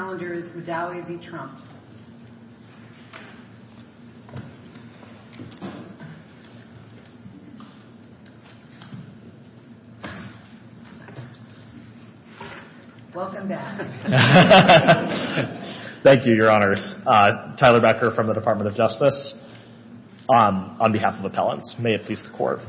Thank you, your honors. Tyler Becker from the Department of Justice on behalf of appellants. May it please the court.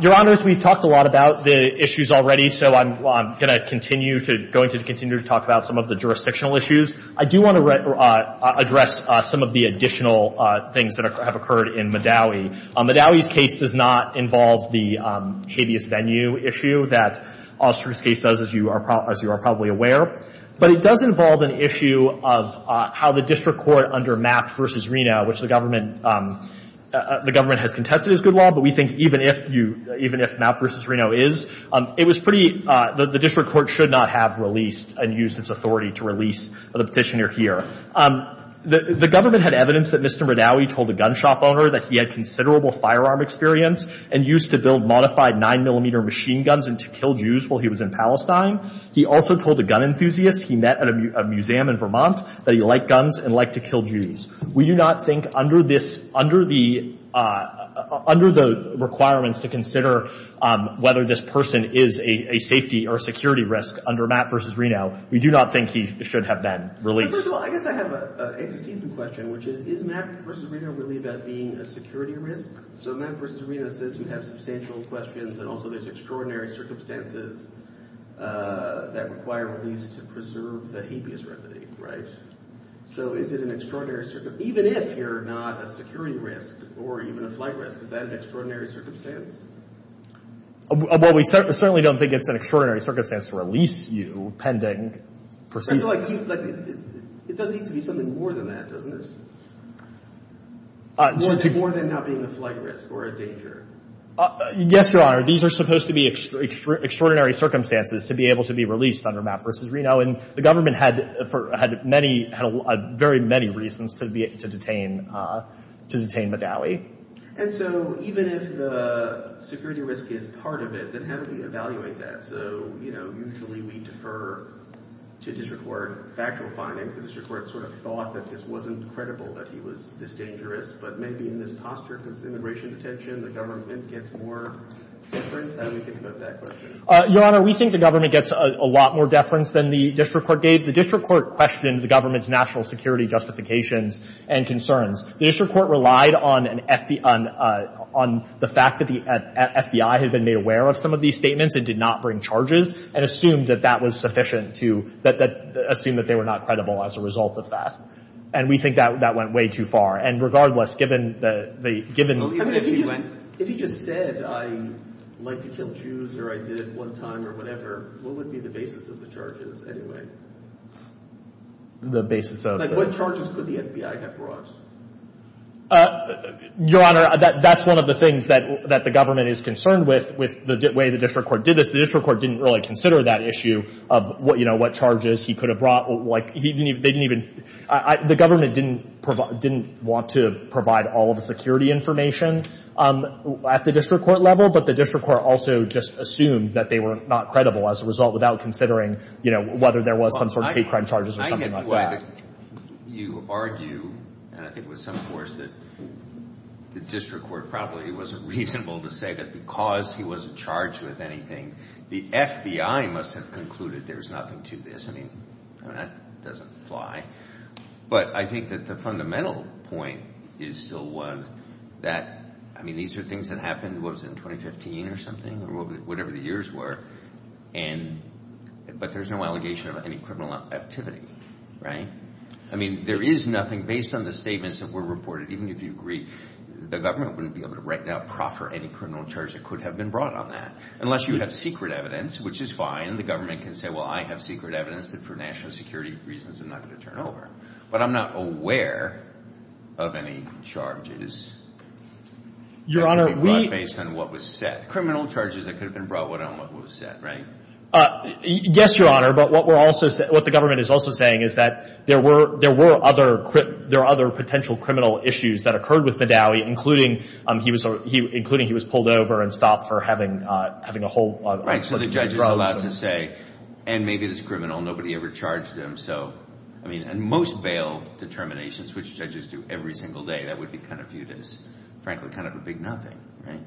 Your honors, we've talked a lot about the issues already so I'm gonna continue to going to continue to talk about some of the jurisdictional issues. I do want to address some of the additional things that have occurred in Maddawi. Maddawi's case does not involve the habeas venue issue that Austria's case does, as you are probably aware, but it does involve an issue of how the district court under Mapp v. Reno, which the government the government has contested as good law, but we think even if you even if Mapp v. Reno is, it was pretty the district court should not have released and used its authority to release the petitioner here. The government had evidence that Mr. Maddawi told a gun shop owner that he had considerable firearm experience and used to build modified nine millimeter machine guns and to kill Jews while he was in Palestine. He also told a gun enthusiast he met at a museum in Vermont that he liked guns and liked to kill Jews. We do not think under this, under the requirements to consider whether this person is a safety or security risk under Mapp v. Reno, we do not think he should have been released. I guess I have a question, which is, is Mapp v. Reno really about being a security risk? So Mapp v. Reno says you have substantial questions and also there's extraordinary circumstances that require release to preserve the habeas venue, right? So is it an extraordinary, even if you're not a security risk or even a flight risk, is that an extraordinary circumstance? Well, we certainly don't think it's an extraordinary circumstance to release you pending proceedings. It does need to be something more than that, doesn't it? More than not being a flight risk or a danger. Yes, Your Honor, these are supposed to be extraordinary circumstances to be able to be released under Mapp v. Reno and the government had many, had very many reasons to detain to detain Madawi. And so even if the security risk is part of it, then how do we evaluate that? So, you know, usually we defer to district court factual findings. The district court sort of thought that this wasn't credible, that he was this dangerous. But maybe in this posture, because immigration detention, the government gets more deference. How do we think about that question? Your Honor, we think the government gets a lot more deference than the district court gave. The district court questioned the government's national security justifications and concerns. The district court relied on an FBI, on the fact that the FBI had been made aware of some of these statements and did not bring charges and assumed that that was sufficient to assume that they were not credible as a result of that. And we think that that went way too far. And regardless, given the, given, if he just said, I like to kill Jews or I did it one time or whatever, what would be the basis of the charges anyway? The basis of? Like, what charges could the FBI have brought? Your Honor, that's one of the things that the government is concerned with, with the way the district court did this. The district court didn't really consider that issue of what, you know, what charges he could have brought. Like, they didn't even, the government didn't want to provide all of the security information. At the district court level, but the district court also just assumed that they were not credible as a result without considering, you know, whether there was some sort of hate crime charges or something like that. I get why you argue, and I think with some force, that the district court probably wasn't reasonable to say that because he wasn't charged with anything, the FBI must have concluded there's nothing to this. I mean, that doesn't fly. But I think that the fundamental point is still one that, I mean, these are things that happened, what was it, in 2015 or something, or whatever the years were, and, but there's no allegation of any criminal activity, right? I mean, there is nothing, based on the statements that were reported, even if you agree, the government wouldn't be able to right now proffer any criminal charge that could have been brought on that, unless you have secret evidence, which is fine. The government can say, well, I have secret evidence that for national security reasons, I'm not going to turn over. But I'm not aware of any charges that could be brought based on what was said, criminal charges that could have been brought on what was said, right? Yes, Your Honor, but what we're also saying, what the government is also saying is that there were other potential criminal issues that occurred with Madawi, including he was pulled over and stopped for having a whole Right, so the judge is allowed to say, and maybe it's criminal, nobody ever charged him, so, I mean, and most bail determinations, which judges do every single day, that would be kind of viewed as, frankly, kind of a big nothing, right?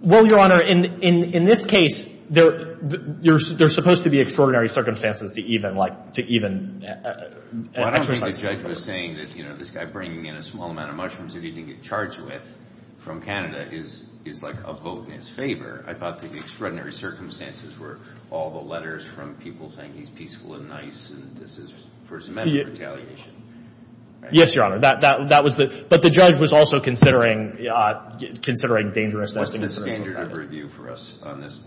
Well, Your Honor, in this case, there's supposed to be extraordinary circumstances to even, like, to even exercise Well, I don't think the judge was saying that, you know, this guy bringing in a small amount of mushrooms that he didn't get charged with from Canada is like a vote in his favor. I thought the extraordinary circumstances were all the letters from people saying he's peaceful and nice, and this is for his amendment retaliation, right? Yes, Your Honor, that was the, but the judge was also considering, considering dangerousness and What's the standard of review for us on this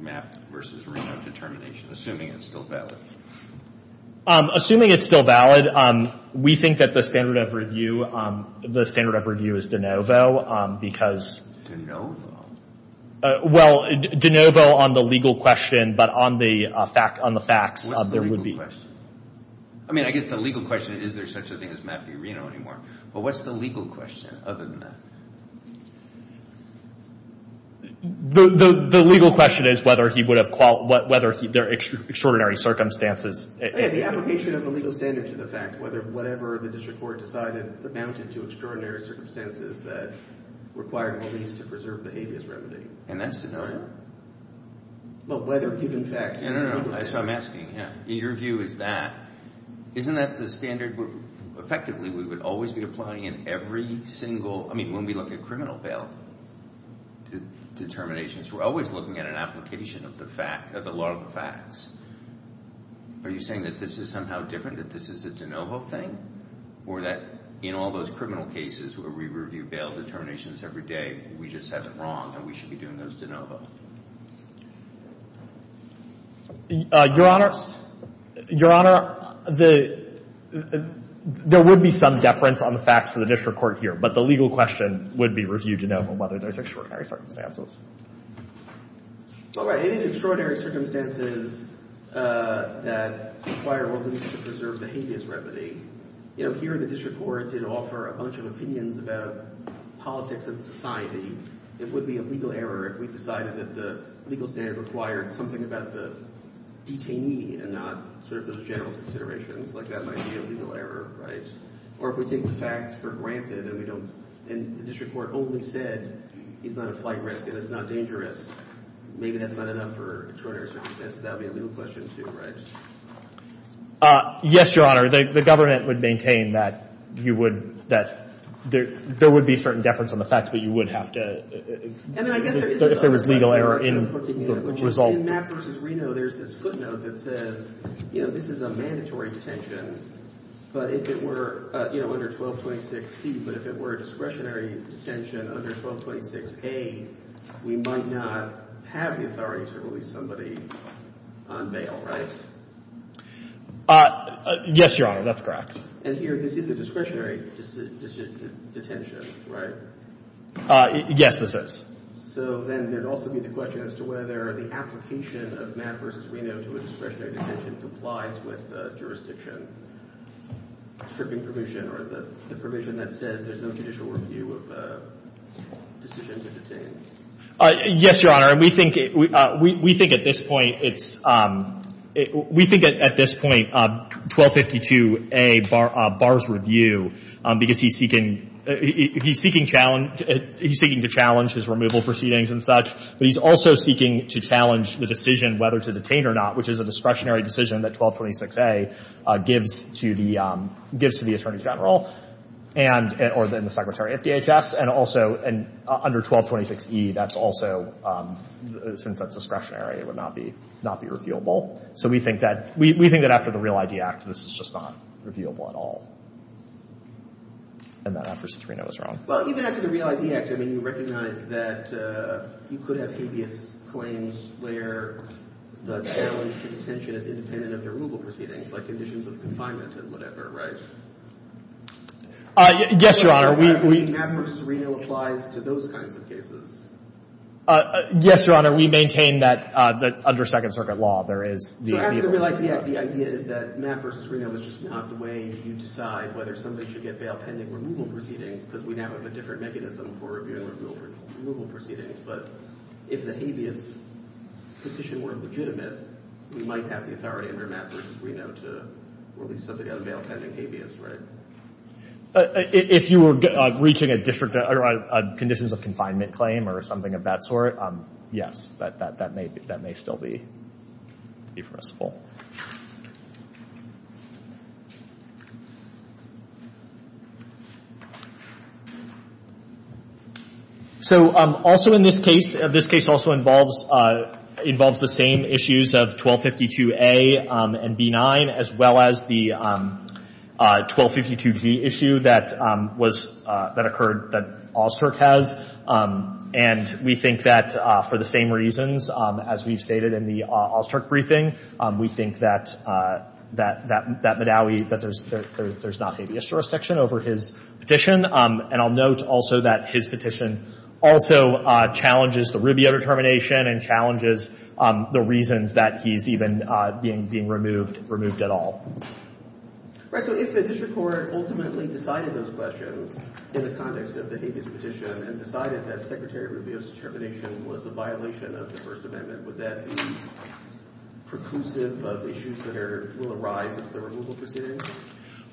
MAP versus Reno determination, assuming it's still valid? Assuming it's still valid, we think that the standard of review, the standard of review is de novo, because De novo? Well, de novo on the legal question, but on the facts, there would be I mean, I guess the legal question is, is there such a thing as MAP v. Reno anymore? But what's the legal question other than that? The legal question is whether he would have, whether there are extraordinary circumstances The application of the legal standard to the fact, whether whatever the district court decided amounted to extraordinary circumstances that required police to preserve the habeas remedy. And that's denied? But whether given facts No, no, no, that's what I'm asking. In your view, is that, isn't that the standard? Effectively, we would always be applying in every single, I mean, when we look at criminal bail determinations, we're always looking at an application of the fact, of the law of the facts. Are you saying that this is somehow different, that this is a de novo thing? Or that in all those criminal cases where we review bail determinations every day, we just have it wrong, and we should be doing those de novo? Your Honor, Your Honor, the, there would be some deference on the facts of the district court here, but the legal question would be review de novo, whether there's extraordinary circumstances. All right, it is extraordinary circumstances that require police to preserve the habeas remedy. You know, here the district court did offer a bunch of opinions about politics and society. It would be a legal error if we decided that the legal standard required something about the detainee and not sort of those general considerations, like that might be a legal error, right? Or if we take the facts for granted and we don't, and the district court only said, it's not a flight risk and it's not dangerous, maybe that's not enough for extraordinary circumstances, that would be a legal question too, right? Yes, Your Honor, the government would maintain that you would, that there would be certain deference on the facts, but you would have to, if there was legal error in the result. In Mapp v. Reno, there's this footnote that says, you know, this is a mandatory detention, but if it were, you know, under 1226C, but if it were a discretionary detention under 1226A, we might not have the authority to release somebody on bail, right? Yes, Your Honor, that's correct. And here, this is a discretionary detention, right? Yes, this is. So then there'd also be the question as to whether the application of Mapp v. Reno to a discretionary detention complies with the jurisdiction stripping provision or the provision that says there's no judicial review of decisions of detainees. Yes, Your Honor, we think at this point, it's, we think at this point, 1252A bars review because he's seeking, he's seeking to challenge his removal proceedings and such, but he's also seeking to challenge the decision whether to detain or not, which is a discretionary decision that 1226A gives to the Attorney General. And, or then the Secretary of DHS, and also, and under 1226E, that's also, since that's discretionary, it would not be, not be reviewable. So we think that, we think that after the REAL ID Act, this is just not reviewable at all. And that after Citrino was wrong. Well, even after the REAL ID Act, I mean, you recognize that you could have habeas claims where the challenge to detention is independent of the removal proceedings, like conditions of confinement and whatever, right? Yes, Your Honor, we. Matt versus Reno applies to those kinds of cases. Yes, Your Honor, we maintain that, that under Second Circuit law, there is the. So after the REAL ID Act, the idea is that Matt versus Reno is just not the way you decide whether somebody should get bail pending removal proceedings, because we now have a different mechanism for reviewing removal proceedings. But if the habeas petition were legitimate, we might have the authority under Matt versus Reno to release somebody on bail pending habeas, right? If you were reaching a district or conditions of confinement claim or something of that sort, yes, that may still be permissible. So also in this case, this case also involves the same issues of 1252A and B9, as well as the 1252G issue that occurred, that Allstirk has. And we think that for the same reasons, as we've stated in the Allstirk briefing, we think that there's not habeas jurisdiction over his petition. And I'll note also that his petition also challenges the Rubio determination and challenges the reasons that he's even being removed at all. All right. So if the district court ultimately decided those questions in the context of the habeas petition and decided that Secretary Rubio's determination was a violation of the First Amendment, would that be preclusive of issues that will arise at the removal proceedings?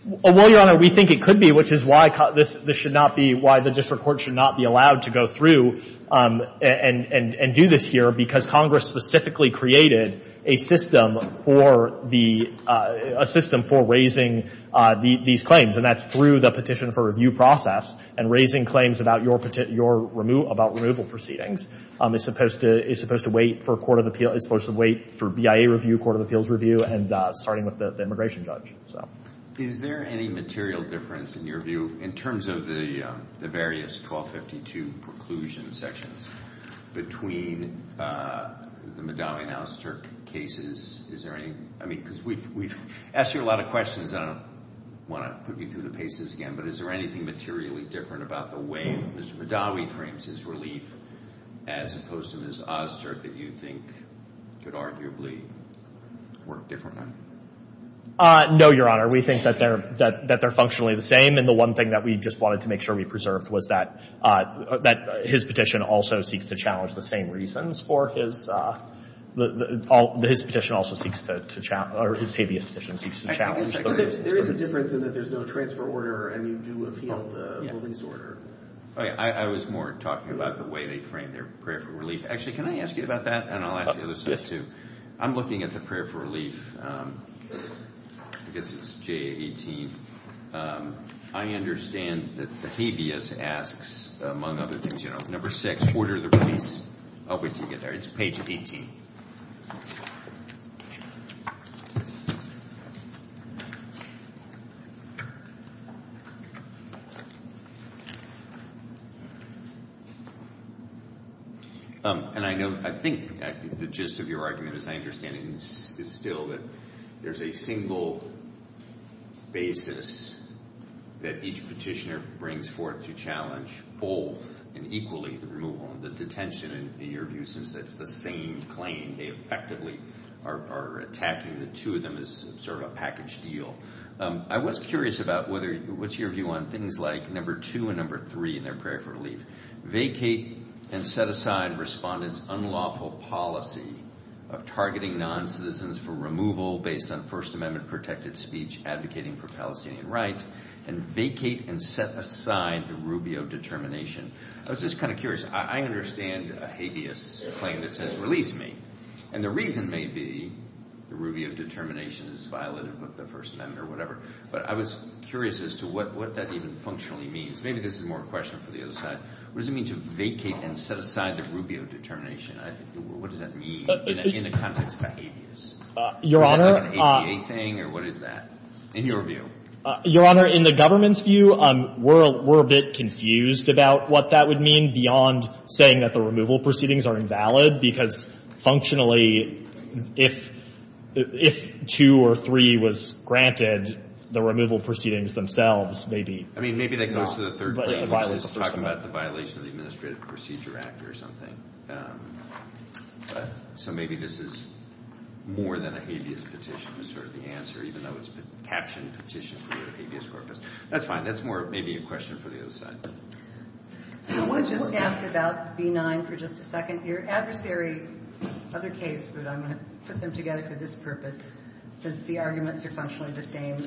Well, Your Honor, we think it could be, which is why this should not be, why the district court should not be allowed to go through and do this here, because Congress specifically created a system for raising these claims. And that's through the petition for review process. And raising claims about removal proceedings is supposed to wait for BIA review, Court of Appeals review, and starting with the immigration judge. Is there any material difference, in your view, in terms of the various 1252 preclusion sections between the Madawi and Allstirk cases? Is there any? I mean, because we've asked you a lot of questions. I don't want to put you through the paces again. But is there anything materially different about the way Mr. Madawi frames his relief as opposed to Ms. Allstirk that you think should arguably work differently? No, Your Honor. We think that they're functionally the same. And the one thing that we just wanted to make sure we preserved was that his petition also seeks to challenge the same reasons for his, his petition also seeks to, or his previous petition seeks to challenge those reasons. There is a difference in that there's no transfer order, and you do appeal the released order. I was more talking about the way they frame their prayer for relief. Actually, can I ask you about that? And I'll ask the others too. I'm looking at the prayer for relief. I guess it's J18. I understand that the habeas asks, among other things, you know, number six, order the release. I'll wait until you get there. It's page 18. Um, and I know, I think the gist of your argument, as I understand it, is still that there's a single basis that each petitioner brings forth to challenge both and equally the removal and the detention, in your view, since that's the same claim. They effectively are attacking the two of them as sort of a packaged deal. I was curious about whether, what's your view on things like number two and number three in their prayer for relief? Vacate and set aside respondents' unlawful policy of targeting non-citizens for removal based on First Amendment protected speech advocating for Palestinian rights, and vacate and set aside the Rubio determination. I was just kind of curious. I understand a habeas claim that says, release me. And the reason may be the Rubio determination is violative of the First Amendment or whatever. But I was curious as to what that even functionally means. Maybe this is more a question for the other side. What does it mean to vacate and set aside the Rubio determination? What does that mean in the context of a habeas? Is that like an ADA thing, or what is that, in your view? Your Honor, in the government's view, we're a bit confused about what that would mean beyond saying that the removal proceedings are invalid. Because functionally, if two or three was granted, the removal proceedings themselves may be not. I mean, maybe that goes to the third claim, which is talking about the violation of the Administrative Procedure Act or something. So maybe this is more than a habeas petition is sort of the answer, even though it's a captioned petition for the habeas corpus. That's fine. That's more maybe a question for the other side. I want to just ask about B-9 for just a second. Your adversary, other case, but I'm going to put them together for this purpose, since the arguments are functionally the same.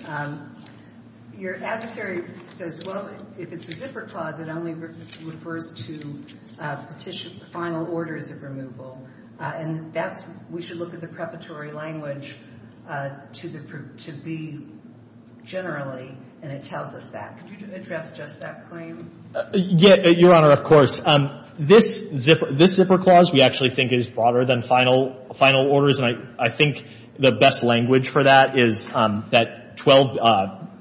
Your adversary says, well, if it's a zipper clause, it only refers to final orders of And that's, we should look at the preparatory language to the, to be generally, and it tells us that. Could you address just that claim? Yeah. Your Honor, of course. This zipper clause we actually think is broader than final orders. And I think the best language for that is that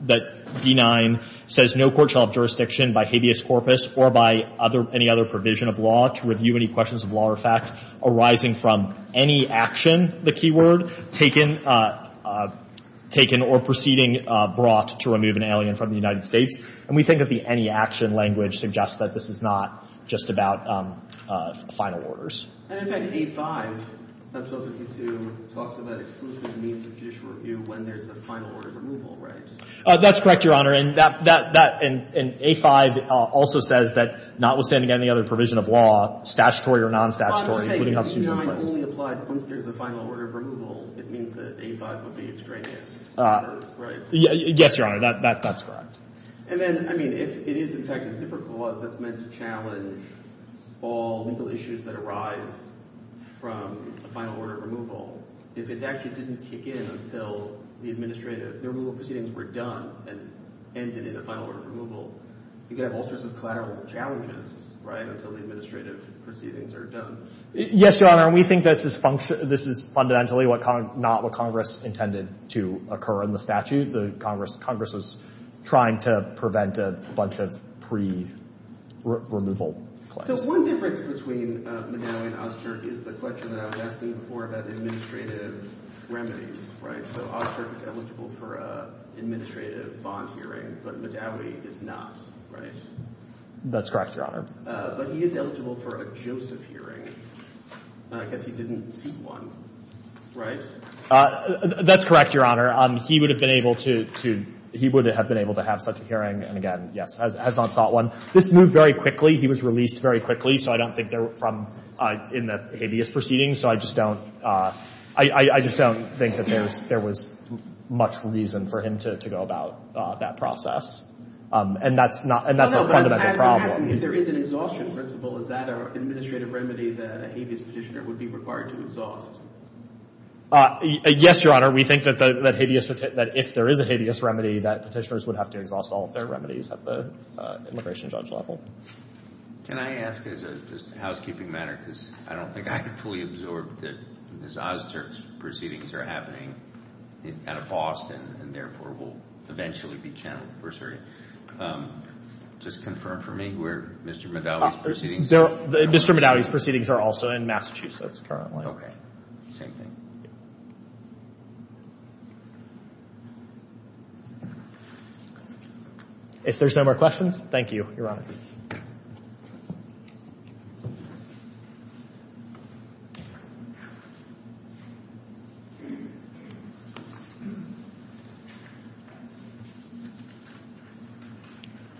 B-9 says no court shall have jurisdiction by habeas corpus or by any other provision of law to review any questions of law or fact arising from any action, the key word, taken or proceeding brought to remove an alien from the United States. And we think of the any action language suggests that this is not just about final orders. And in fact, A-5 talks about exclusive means of judicial review when there's a final order removal, right? That's correct, Your Honor. And that, and A-5 also says that notwithstanding any other provision of law, statutory or non-statutory. B-9 only applied once there's a final order of removal. It means that A-5 would be extraneous, right? Yes, Your Honor. That's correct. And then, I mean, if it is in fact a zipper clause that's meant to challenge all legal issues that arise from a final order of removal, if it actually didn't kick in until the administrative, the removal proceedings were done and ended in a final order of removal, you could have all sorts of collateral challenges, right? Until the administrative proceedings are done. Yes, Your Honor. And we think that this is fundamentally not what Congress intended to occur in the statute. The Congress was trying to prevent a bunch of pre-removal claims. So one difference between Madawi and Ozturk is the question that I was asking before about the administrative remedies, right? So Ozturk is eligible for an administrative bond hearing, but Madawi is not, right? That's correct, Your Honor. But he is eligible for a Joseph hearing, because he didn't see one, right? That's correct, Your Honor. He would have been able to have such a hearing. And again, yes, has not sought one. This moved very quickly. He was released very quickly. So I don't think they're from in the habeas proceedings. So I just don't think that there was much reason for him to go about that process. And that's a fundamental problem. If there is an exhaustion principle, is that an administrative remedy that a habeas petitioner would be required to exhaust? Yes, Your Honor. We think that if there is a habeas remedy, that petitioners would have to exhaust all of their remedies at the immigration judge level. Can I ask as a housekeeping matter, because I don't think I could fully absorb that this Ozturk's proceedings are happening out of Boston, and therefore will eventually be channeled, per se. Can you just confirm for me where Mr. Medaudi's proceedings are? Mr. Medaudi's proceedings are also in Massachusetts currently. Okay, same thing. If there's no more questions, thank you, Your Honor.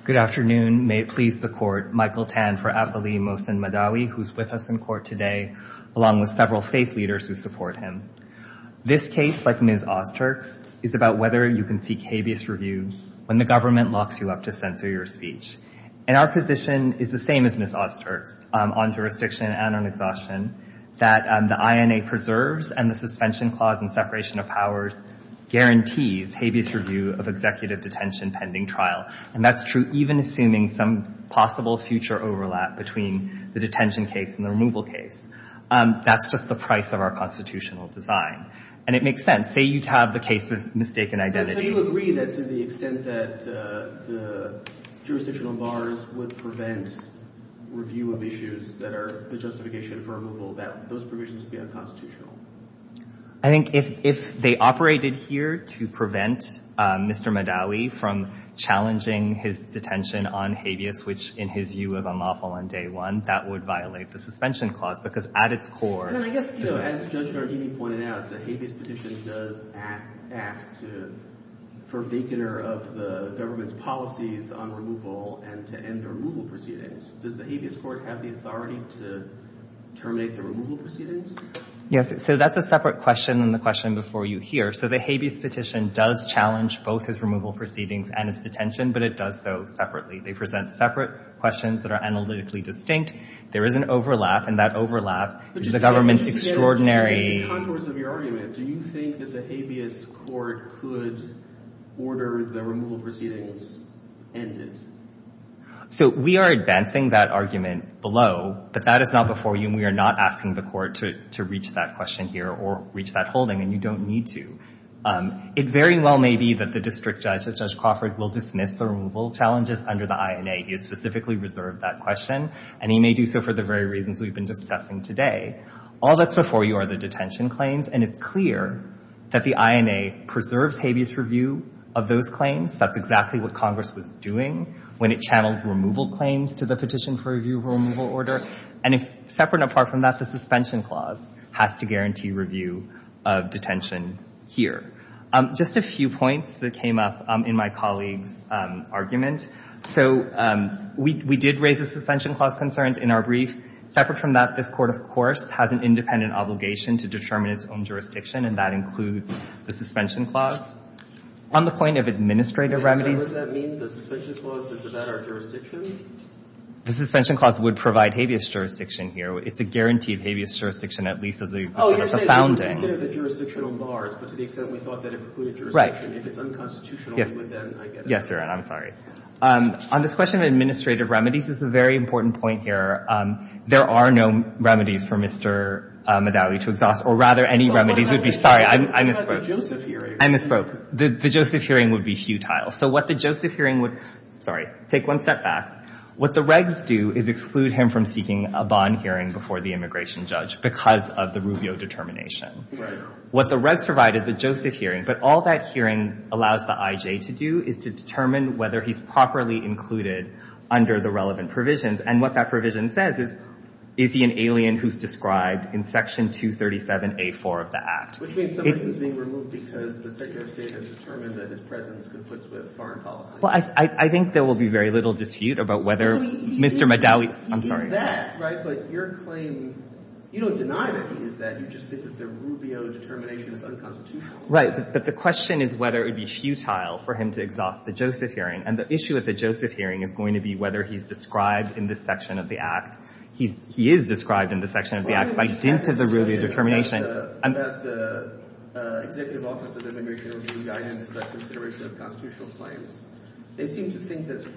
Good afternoon. May it please the court. Michael Tan for Afalee Mohsen Medaudi, who's with us in court today, along with several faith leaders who support him. This case, like Ms. Ozturk's, is about whether you can seek habeas review when the government locks you up to censor your speech. And our position is the same as Ms. Ozturk's on jurisdiction and on exhaustion, that the INA preserves and the suspension clause and separation of powers guarantees habeas review of executive detention pending trial. And that's true even assuming some possible future overlap between the detention case and the removal case. That's just the price of our constitutional design. And it makes sense. Say you have the case with mistaken identity. So you agree that to the extent that the jurisdictional bars would prevent review of issues that are the justification for removal, that those provisions would be unconstitutional? I think if they operated here to prevent Mr. Medaudi from challenging his detention on habeas, which in his view was unlawful on day one, that would violate the suspension clause. Because at its core— And I guess, as Judge Gardini pointed out, the habeas petition does ask for a vacaner of the government's policies on removal and to end the removal proceedings. Does the habeas court have the authority to terminate the removal proceedings? Yes. So that's a separate question than the question before you here. So the habeas petition does challenge both his removal proceedings and his detention. But it does so separately. They present separate questions that are analytically distinct. There is an overlap. And that overlap is the government's extraordinary— Contours of your argument. Do you think that the habeas court could order the removal proceedings ended? So we are advancing that argument below. But that is not before you. We are not asking the court to reach that question here or reach that holding. And you don't need to. It very well may be that the district judge, Judge Crawford, will dismiss the removal challenges under the INA. He has specifically reserved that question. And he may do so for the very reasons we've been discussing today. All that's before you are the detention claims. And it's clear that the INA preserves habeas review of those claims. That's exactly what Congress was doing when it channeled removal claims to the petition for review of a removal order. And separate and apart from that, the suspension clause has to guarantee review of detention here. Just a few points that came up in my colleague's argument. So we did raise the suspension clause concerns in our brief. Separate from that, this court, of course, has an independent obligation to determine its own jurisdiction. And that includes the suspension clause. On the point of administrative remedies— So would that mean the suspension clause is about our jurisdiction? The suspension clause would provide habeas jurisdiction here. It's a guarantee of habeas jurisdiction, at least as a— Oh, you're saying instead of the jurisdictional bars, but to the extent we thought that it included jurisdiction. If it's unconstitutional, then I get it. Yes, Your Honor. I'm sorry. On this question of administrative remedies, this is a very important point here. There are no remedies for Mr. Medalli to exhaust. Or rather, any remedies would be— Sorry, I misspoke. You had the Joseph hearing. I misspoke. The Joseph hearing would be futile. So what the Joseph hearing would— Take one step back. What the regs do is exclude him from seeking a bond hearing before the immigration judge because of the Rubio determination. What the regs provide is the Joseph hearing. But all that hearing allows the IJ to do is to determine whether he's properly included under the relevant provisions. And what that provision says is, is he an alien who's described in Section 237A-4 of the Act? Which means somebody who's being removed because the Secretary of State has determined that his presence conflicts with foreign policy. Well, I think there will be very little dispute about whether Mr. Medalli— He is that, right? But your claim—you don't deny that he is that. You just think that the Rubio determination is unconstitutional. Right. But the question is whether it would be futile for him to exhaust the Joseph hearing. And the issue at the Joseph hearing is going to be whether he's described in this section of the Act. He is described in the section of the Act by dint of the Rubio determination. The Executive Office of Immigration will give guidance about consideration of constitutional claims. They seem to think that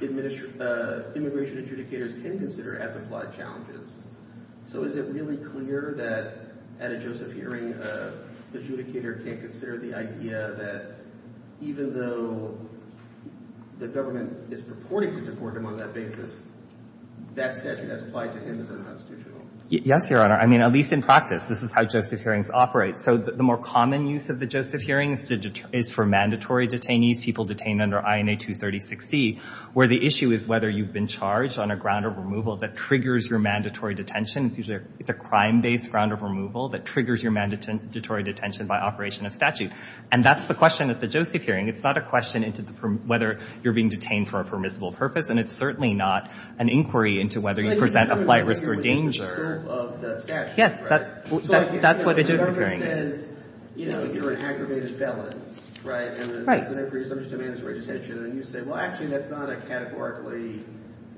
immigration adjudicators can consider as-applied challenges. So is it really clear that at a Joseph hearing, an adjudicator can't consider the idea that even though the government is purporting to deport him on that basis, that statute has applied to him as unconstitutional? Yes, Your Honor. I mean, at least in practice, this is how Joseph hearings operate. So the more common use of the Joseph hearing is for mandatory detainees, people detained under INA 236C, where the issue is whether you've been charged on a ground of removal that triggers your mandatory detention. It's usually a crime-based ground of removal that triggers your mandatory detention by operation of statute. And that's the question at the Joseph hearing. It's not a question into whether you're being detained for a permissible purpose, and it's certainly not an inquiry into whether you present a flight risk or danger. Of the statute, right? Yes, that's what a Joseph hearing is. So the government says, you know, you're an aggravated felon, right? Right. And that's an inquiry subject to mandatory detention. And you say, well, actually, that's not a categorically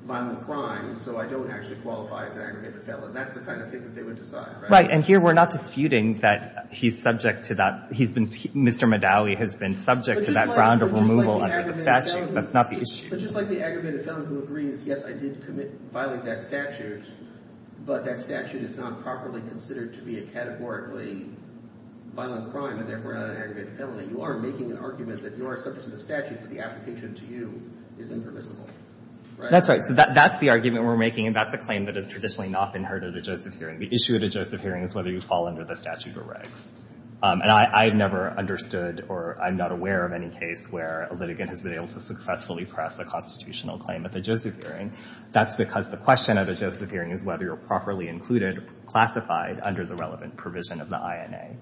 violent crime, so I don't actually qualify as an aggravated felon. That's the kind of thing that they would decide, right? Right. And here we're not disputing that he's subject to that. He's been, Mr. Medaille has been subject to that ground of removal under the statute. That's not the issue. But just like the aggravated felon who agrees, yes, I did commit, violate that statute, but that statute is not properly considered to be a categorically violent crime and therefore not an aggravated felony, you are making an argument that you are subject to the statute, but the application to you is impermissible, right? That's right. So that's the argument we're making. And that's a claim that has traditionally not been heard at a Joseph hearing. The issue at a Joseph hearing is whether you fall under the statute or regs. And I've never understood or I'm not aware of any case where a litigant has been able to successfully press a constitutional claim at the Joseph hearing. That's because the question at a Joseph hearing is whether you're properly included, classified under the relevant provision of the INA.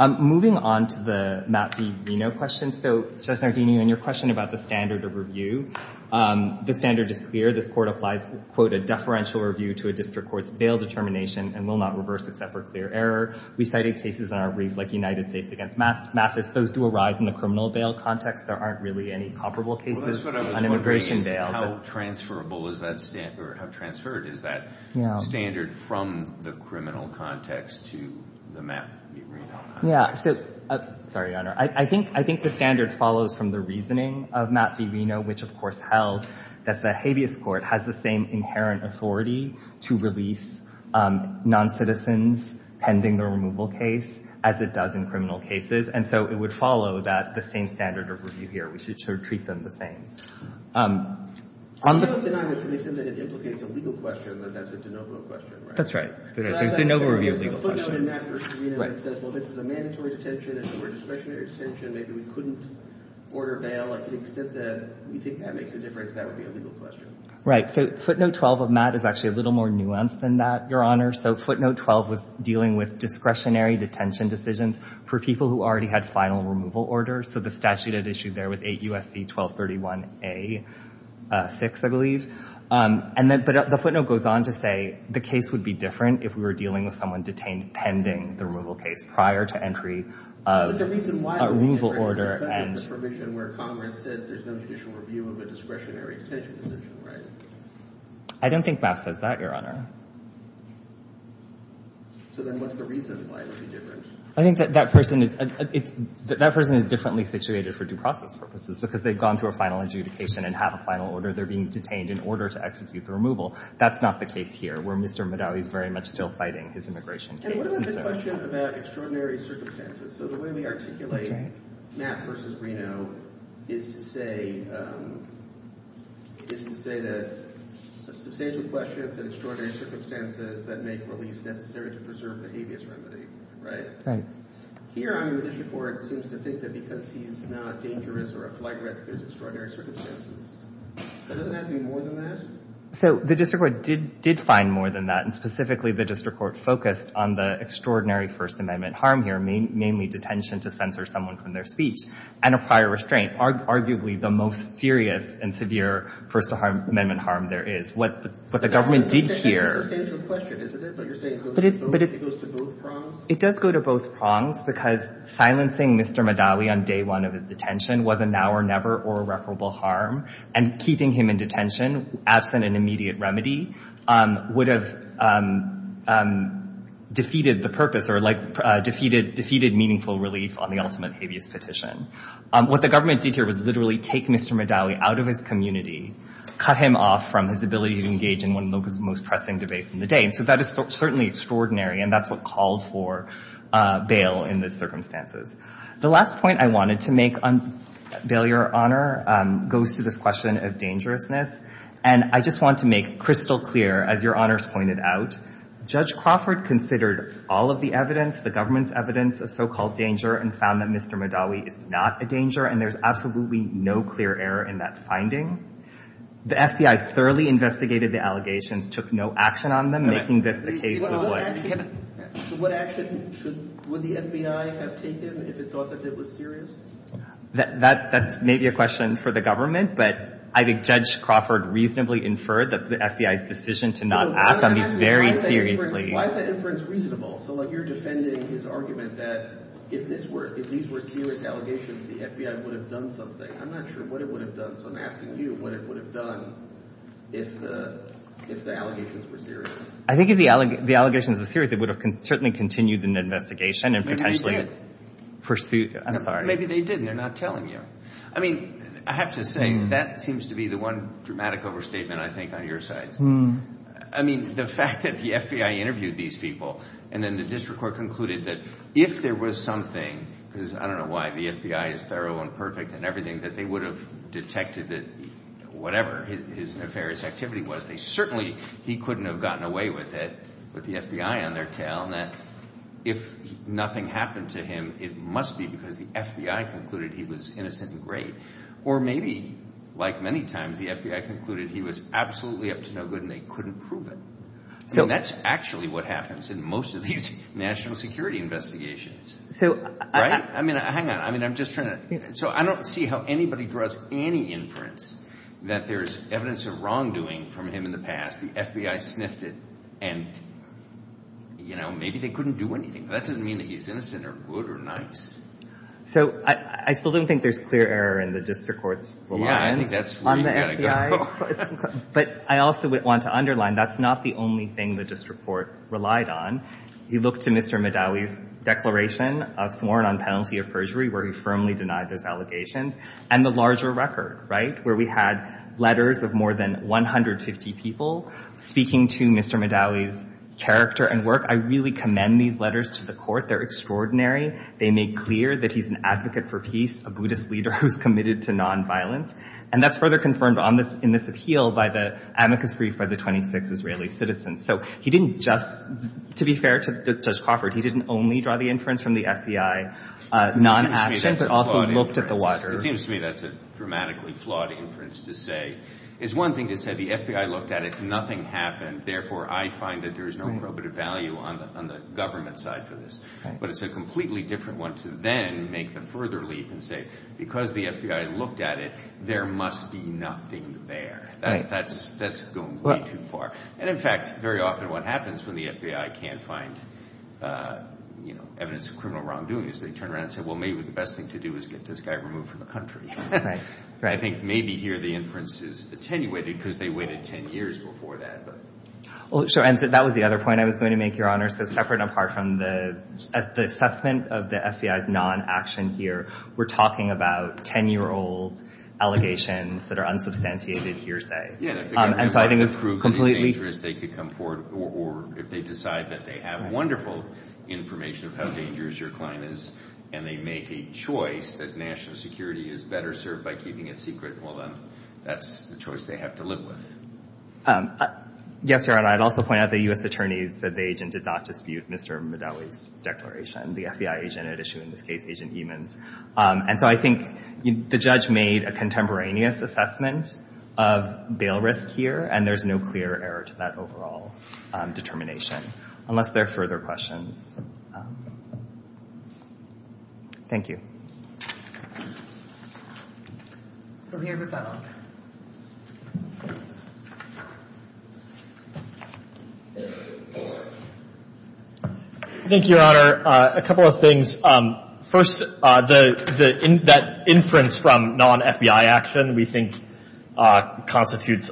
Moving on to the Matt v. Reno question. So, Justice Nardini, in your question about the standard of review, the standard is clear. This court applies, quote, a deferential review to a district court's bail determination and will not reverse except for clear error. We cited cases on our brief like United States against Mathis. Those do arise in the criminal bail context. There aren't really any comparable cases on immigration bail. How transferable is that standard, or how transferred is that standard from the criminal context to the Matt v. Reno context? Yeah, so, sorry, Your Honor. I think the standard follows from the reasoning of Matt v. Reno, which of course held that the habeas court has the same inherent authority to release non-citizens pending the removal case as it does in criminal cases. And so it would follow that the same standard of review here, which is to treat them the same. You don't deny that to the extent that it implicates a legal question, that that's a de novo question, right? That's right. There's de novo review of legal questions. So, footnote in Matt v. Reno that says, well, this is a mandatory detention. If it were a discretionary detention, maybe we couldn't order bail. Like, to the extent that we think that makes a difference, that would be a legal question. Right. So, footnote 12 of Matt is actually a little more nuanced than that, Your Honor. So, footnote 12 was dealing with discretionary detention decisions for people who already had final removal orders. So, the statute at issue there was 8 U.S.C. 1231A6, I believe. But the footnote goes on to say, the case would be different if we were dealing with someone detained pending the removal case prior to entry of a removal order. But the reason why, because of the permission where Congress says there's no judicial review of a discretionary detention decision, right? I don't think Matt says that, Your Honor. So, then what's the reason why it would be different? I think that that person is differently situated for due process purposes, because they've gone through a final adjudication and have a final order. They're being detained in order to execute the removal. That's not the case here, where Mr. Medaille is very much still fighting his immigration case. And what about the question about extraordinary circumstances? So, the way we articulate Matt versus Reno is to say that substantial questions and extraordinary circumstances that make release necessary to preserve the habeas remedy, right? Here, I mean, the district court seems to think that because he's not dangerous or a flight risk, there's extraordinary circumstances. But doesn't it have to be more than that? So, the district court did find more than that. And specifically, the district court focused on the extraordinary First Amendment harm here, mainly detention to censor someone from their speech and a prior restraint, arguably the most serious and severe First Amendment harm there is. What the government did here— That's a substantial question, isn't it? But you're saying it goes to both prongs? It does go to both prongs, because silencing Mr. Medaille on day one of his detention was a now-or-never or irreparable harm. And keeping him in detention, absent an immediate remedy, would have defeated the purpose or defeated meaningful relief on the ultimate habeas petition. What the government did here was literally take Mr. Medaille out of his community, cut him off from his ability to engage in one of the most pressing debates in the day. So, that is certainly extraordinary. And that's what called for bail in these circumstances. The last point I wanted to make on bail, Your Honor, goes to this question of dangerousness. And I just want to make crystal clear, as Your Honors pointed out, Judge Crawford considered all of the evidence, the government's evidence, of so-called danger and found that Mr. Medaille is not a danger. And there's absolutely no clear error in that finding. The FBI thoroughly investigated the allegations, took no action on them, making this the case that would. So, what action would the FBI have taken if it thought that it was serious? That's maybe a question for the government. But I think Judge Crawford reasonably inferred that the FBI's decision to not act on these very seriously. Why is that inference reasonable? So, like, you're defending his argument that if these were serious allegations, the FBI would have done something. I'm not sure what it would have done. So, I'm asking you what it would have done if the allegations were serious. I think if the allegations were serious, it would have certainly continued an investigation and potentially pursued. Maybe they didn't. They're not telling you. I mean, I have to say, that seems to be the one dramatic overstatement, I think, on your side. I mean, the fact that the FBI interviewed these people and then the district court concluded that if there was something, because I don't know why, the FBI is thorough and perfect and everything, that they would have detected that whatever his nefarious activity was, certainly he couldn't have gotten away with it, with the FBI on their tail, and that if nothing happened to him, it must be because the FBI concluded he was innocent and great. Or maybe, like many times, the FBI concluded he was absolutely up to no good and they couldn't prove it. So, that's actually what happens in most of these national security investigations. So, I mean, hang on. I mean, I'm just trying to. So, I don't see how anybody draws any inference that there's evidence of wrongdoing from him in the past. The FBI sniffed it and, you know, maybe they couldn't do anything. But that doesn't mean that he's innocent or good or nice. So, I still don't think there's clear error in the district court's reliance on the FBI. But I also want to underline, that's not the only thing the district court relied on. You look to Mr. Madawi's declaration, a sworn on penalty of perjury, where he firmly denied those allegations, and the larger record, right? Where we had letters of more than 150 people speaking to Mr. Madawi's character and work. I really commend these letters to the court. They're extraordinary. They make clear that he's an advocate for peace, a Buddhist leader who's committed to nonviolence. And that's further confirmed in this appeal by the amicus brief by the 26 Israeli citizens. So, he didn't just, to be fair to Judge Crawford, he didn't only draw the inference from the FBI, non-action, but also looked at the water. It seems to me that's a dramatically flawed inference to say, it's one thing to say the FBI looked at it, nothing happened. Therefore, I find that there is no probative value on the government side for this. But it's a completely different one to then make the further leap and say, because the FBI looked at it, there must be nothing there. That's going way too far. And in fact, very often what happens when the FBI can't find evidence of criminal wrongdoing is they turn around and say, well, maybe the best thing to do is get this guy removed from the country. Right, right. I think maybe here the inference is attenuated because they waited 10 years before that. Well, sure. And that was the other point I was going to make, Your Honor. So, separate and apart from the assessment of the FBI's non-action here, we're talking about 10-year-old allegations that are unsubstantiated hearsay. Yeah. And so, I think it's completely— If they decide that they have wonderful information of how dangerous your client is and they make a choice that national security is better served by keeping it secret, well, then that's the choice they have to live with. Yes, Your Honor. I'd also point out the U.S. attorney said the agent did not dispute Mr. Madawi's declaration. The FBI agent had issued, in this case, Agent Emens. And so, I think the judge made a contemporaneous assessment of bail risk here, and there's no clear error to that overall determination, unless there are further questions. Thank you. Governor McConnell. Thank you, Your Honor. A couple of things. First, that inference from non-FBI action, we think constitutes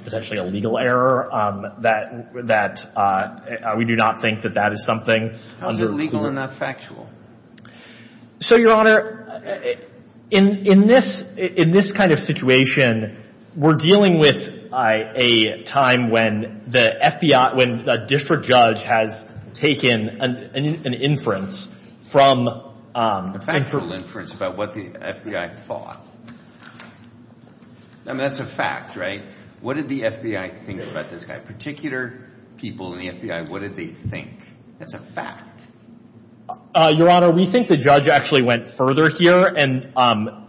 potentially a legal error. That—we do not think that that is something— How is it legal and not factual? So, Your Honor, in this kind of situation, we're dealing with a time when the FBI—when the district judge has taken an inference from— A factual inference about what the FBI thought. I mean, that's a fact, right? What did the FBI think about this guy? Particular people in the FBI, what did they think? That's a fact. Your Honor, we think the judge actually went further here, and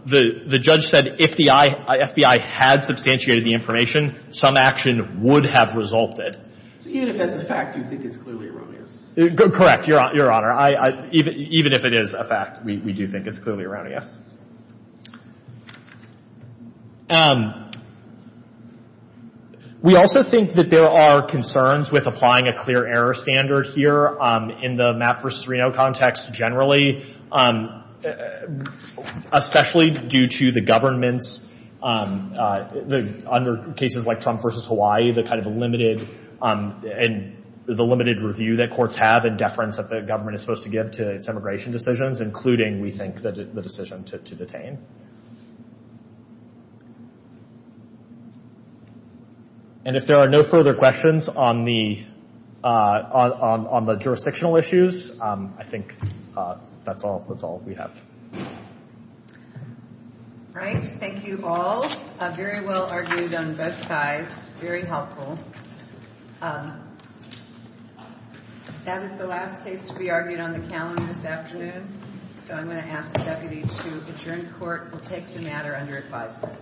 the judge said if the FBI had substantiated the information, some action would have resulted. So, even if that's a fact, you think it's clearly erroneous? Correct, Your Honor. Even if it is a fact, we do think it's clearly erroneous. We also think that there are concerns with applying a clear error standard here in the Mapp v. Reno context generally, especially due to the government's—under cases like Trump v. Hawaii, the kind of limited—and the limited review that courts have and deference that the government is supposed to give to its immigration decisions, including, we think, the decision to detain. And if there are no further questions on the jurisdictional issues, I think that's all we have. All right. Thank you all. Very well argued on both sides. Very helpful. That is the last case to be argued on the calendar this afternoon, so I'm going to ask the deputy to adjourn court and take the matter under advisement.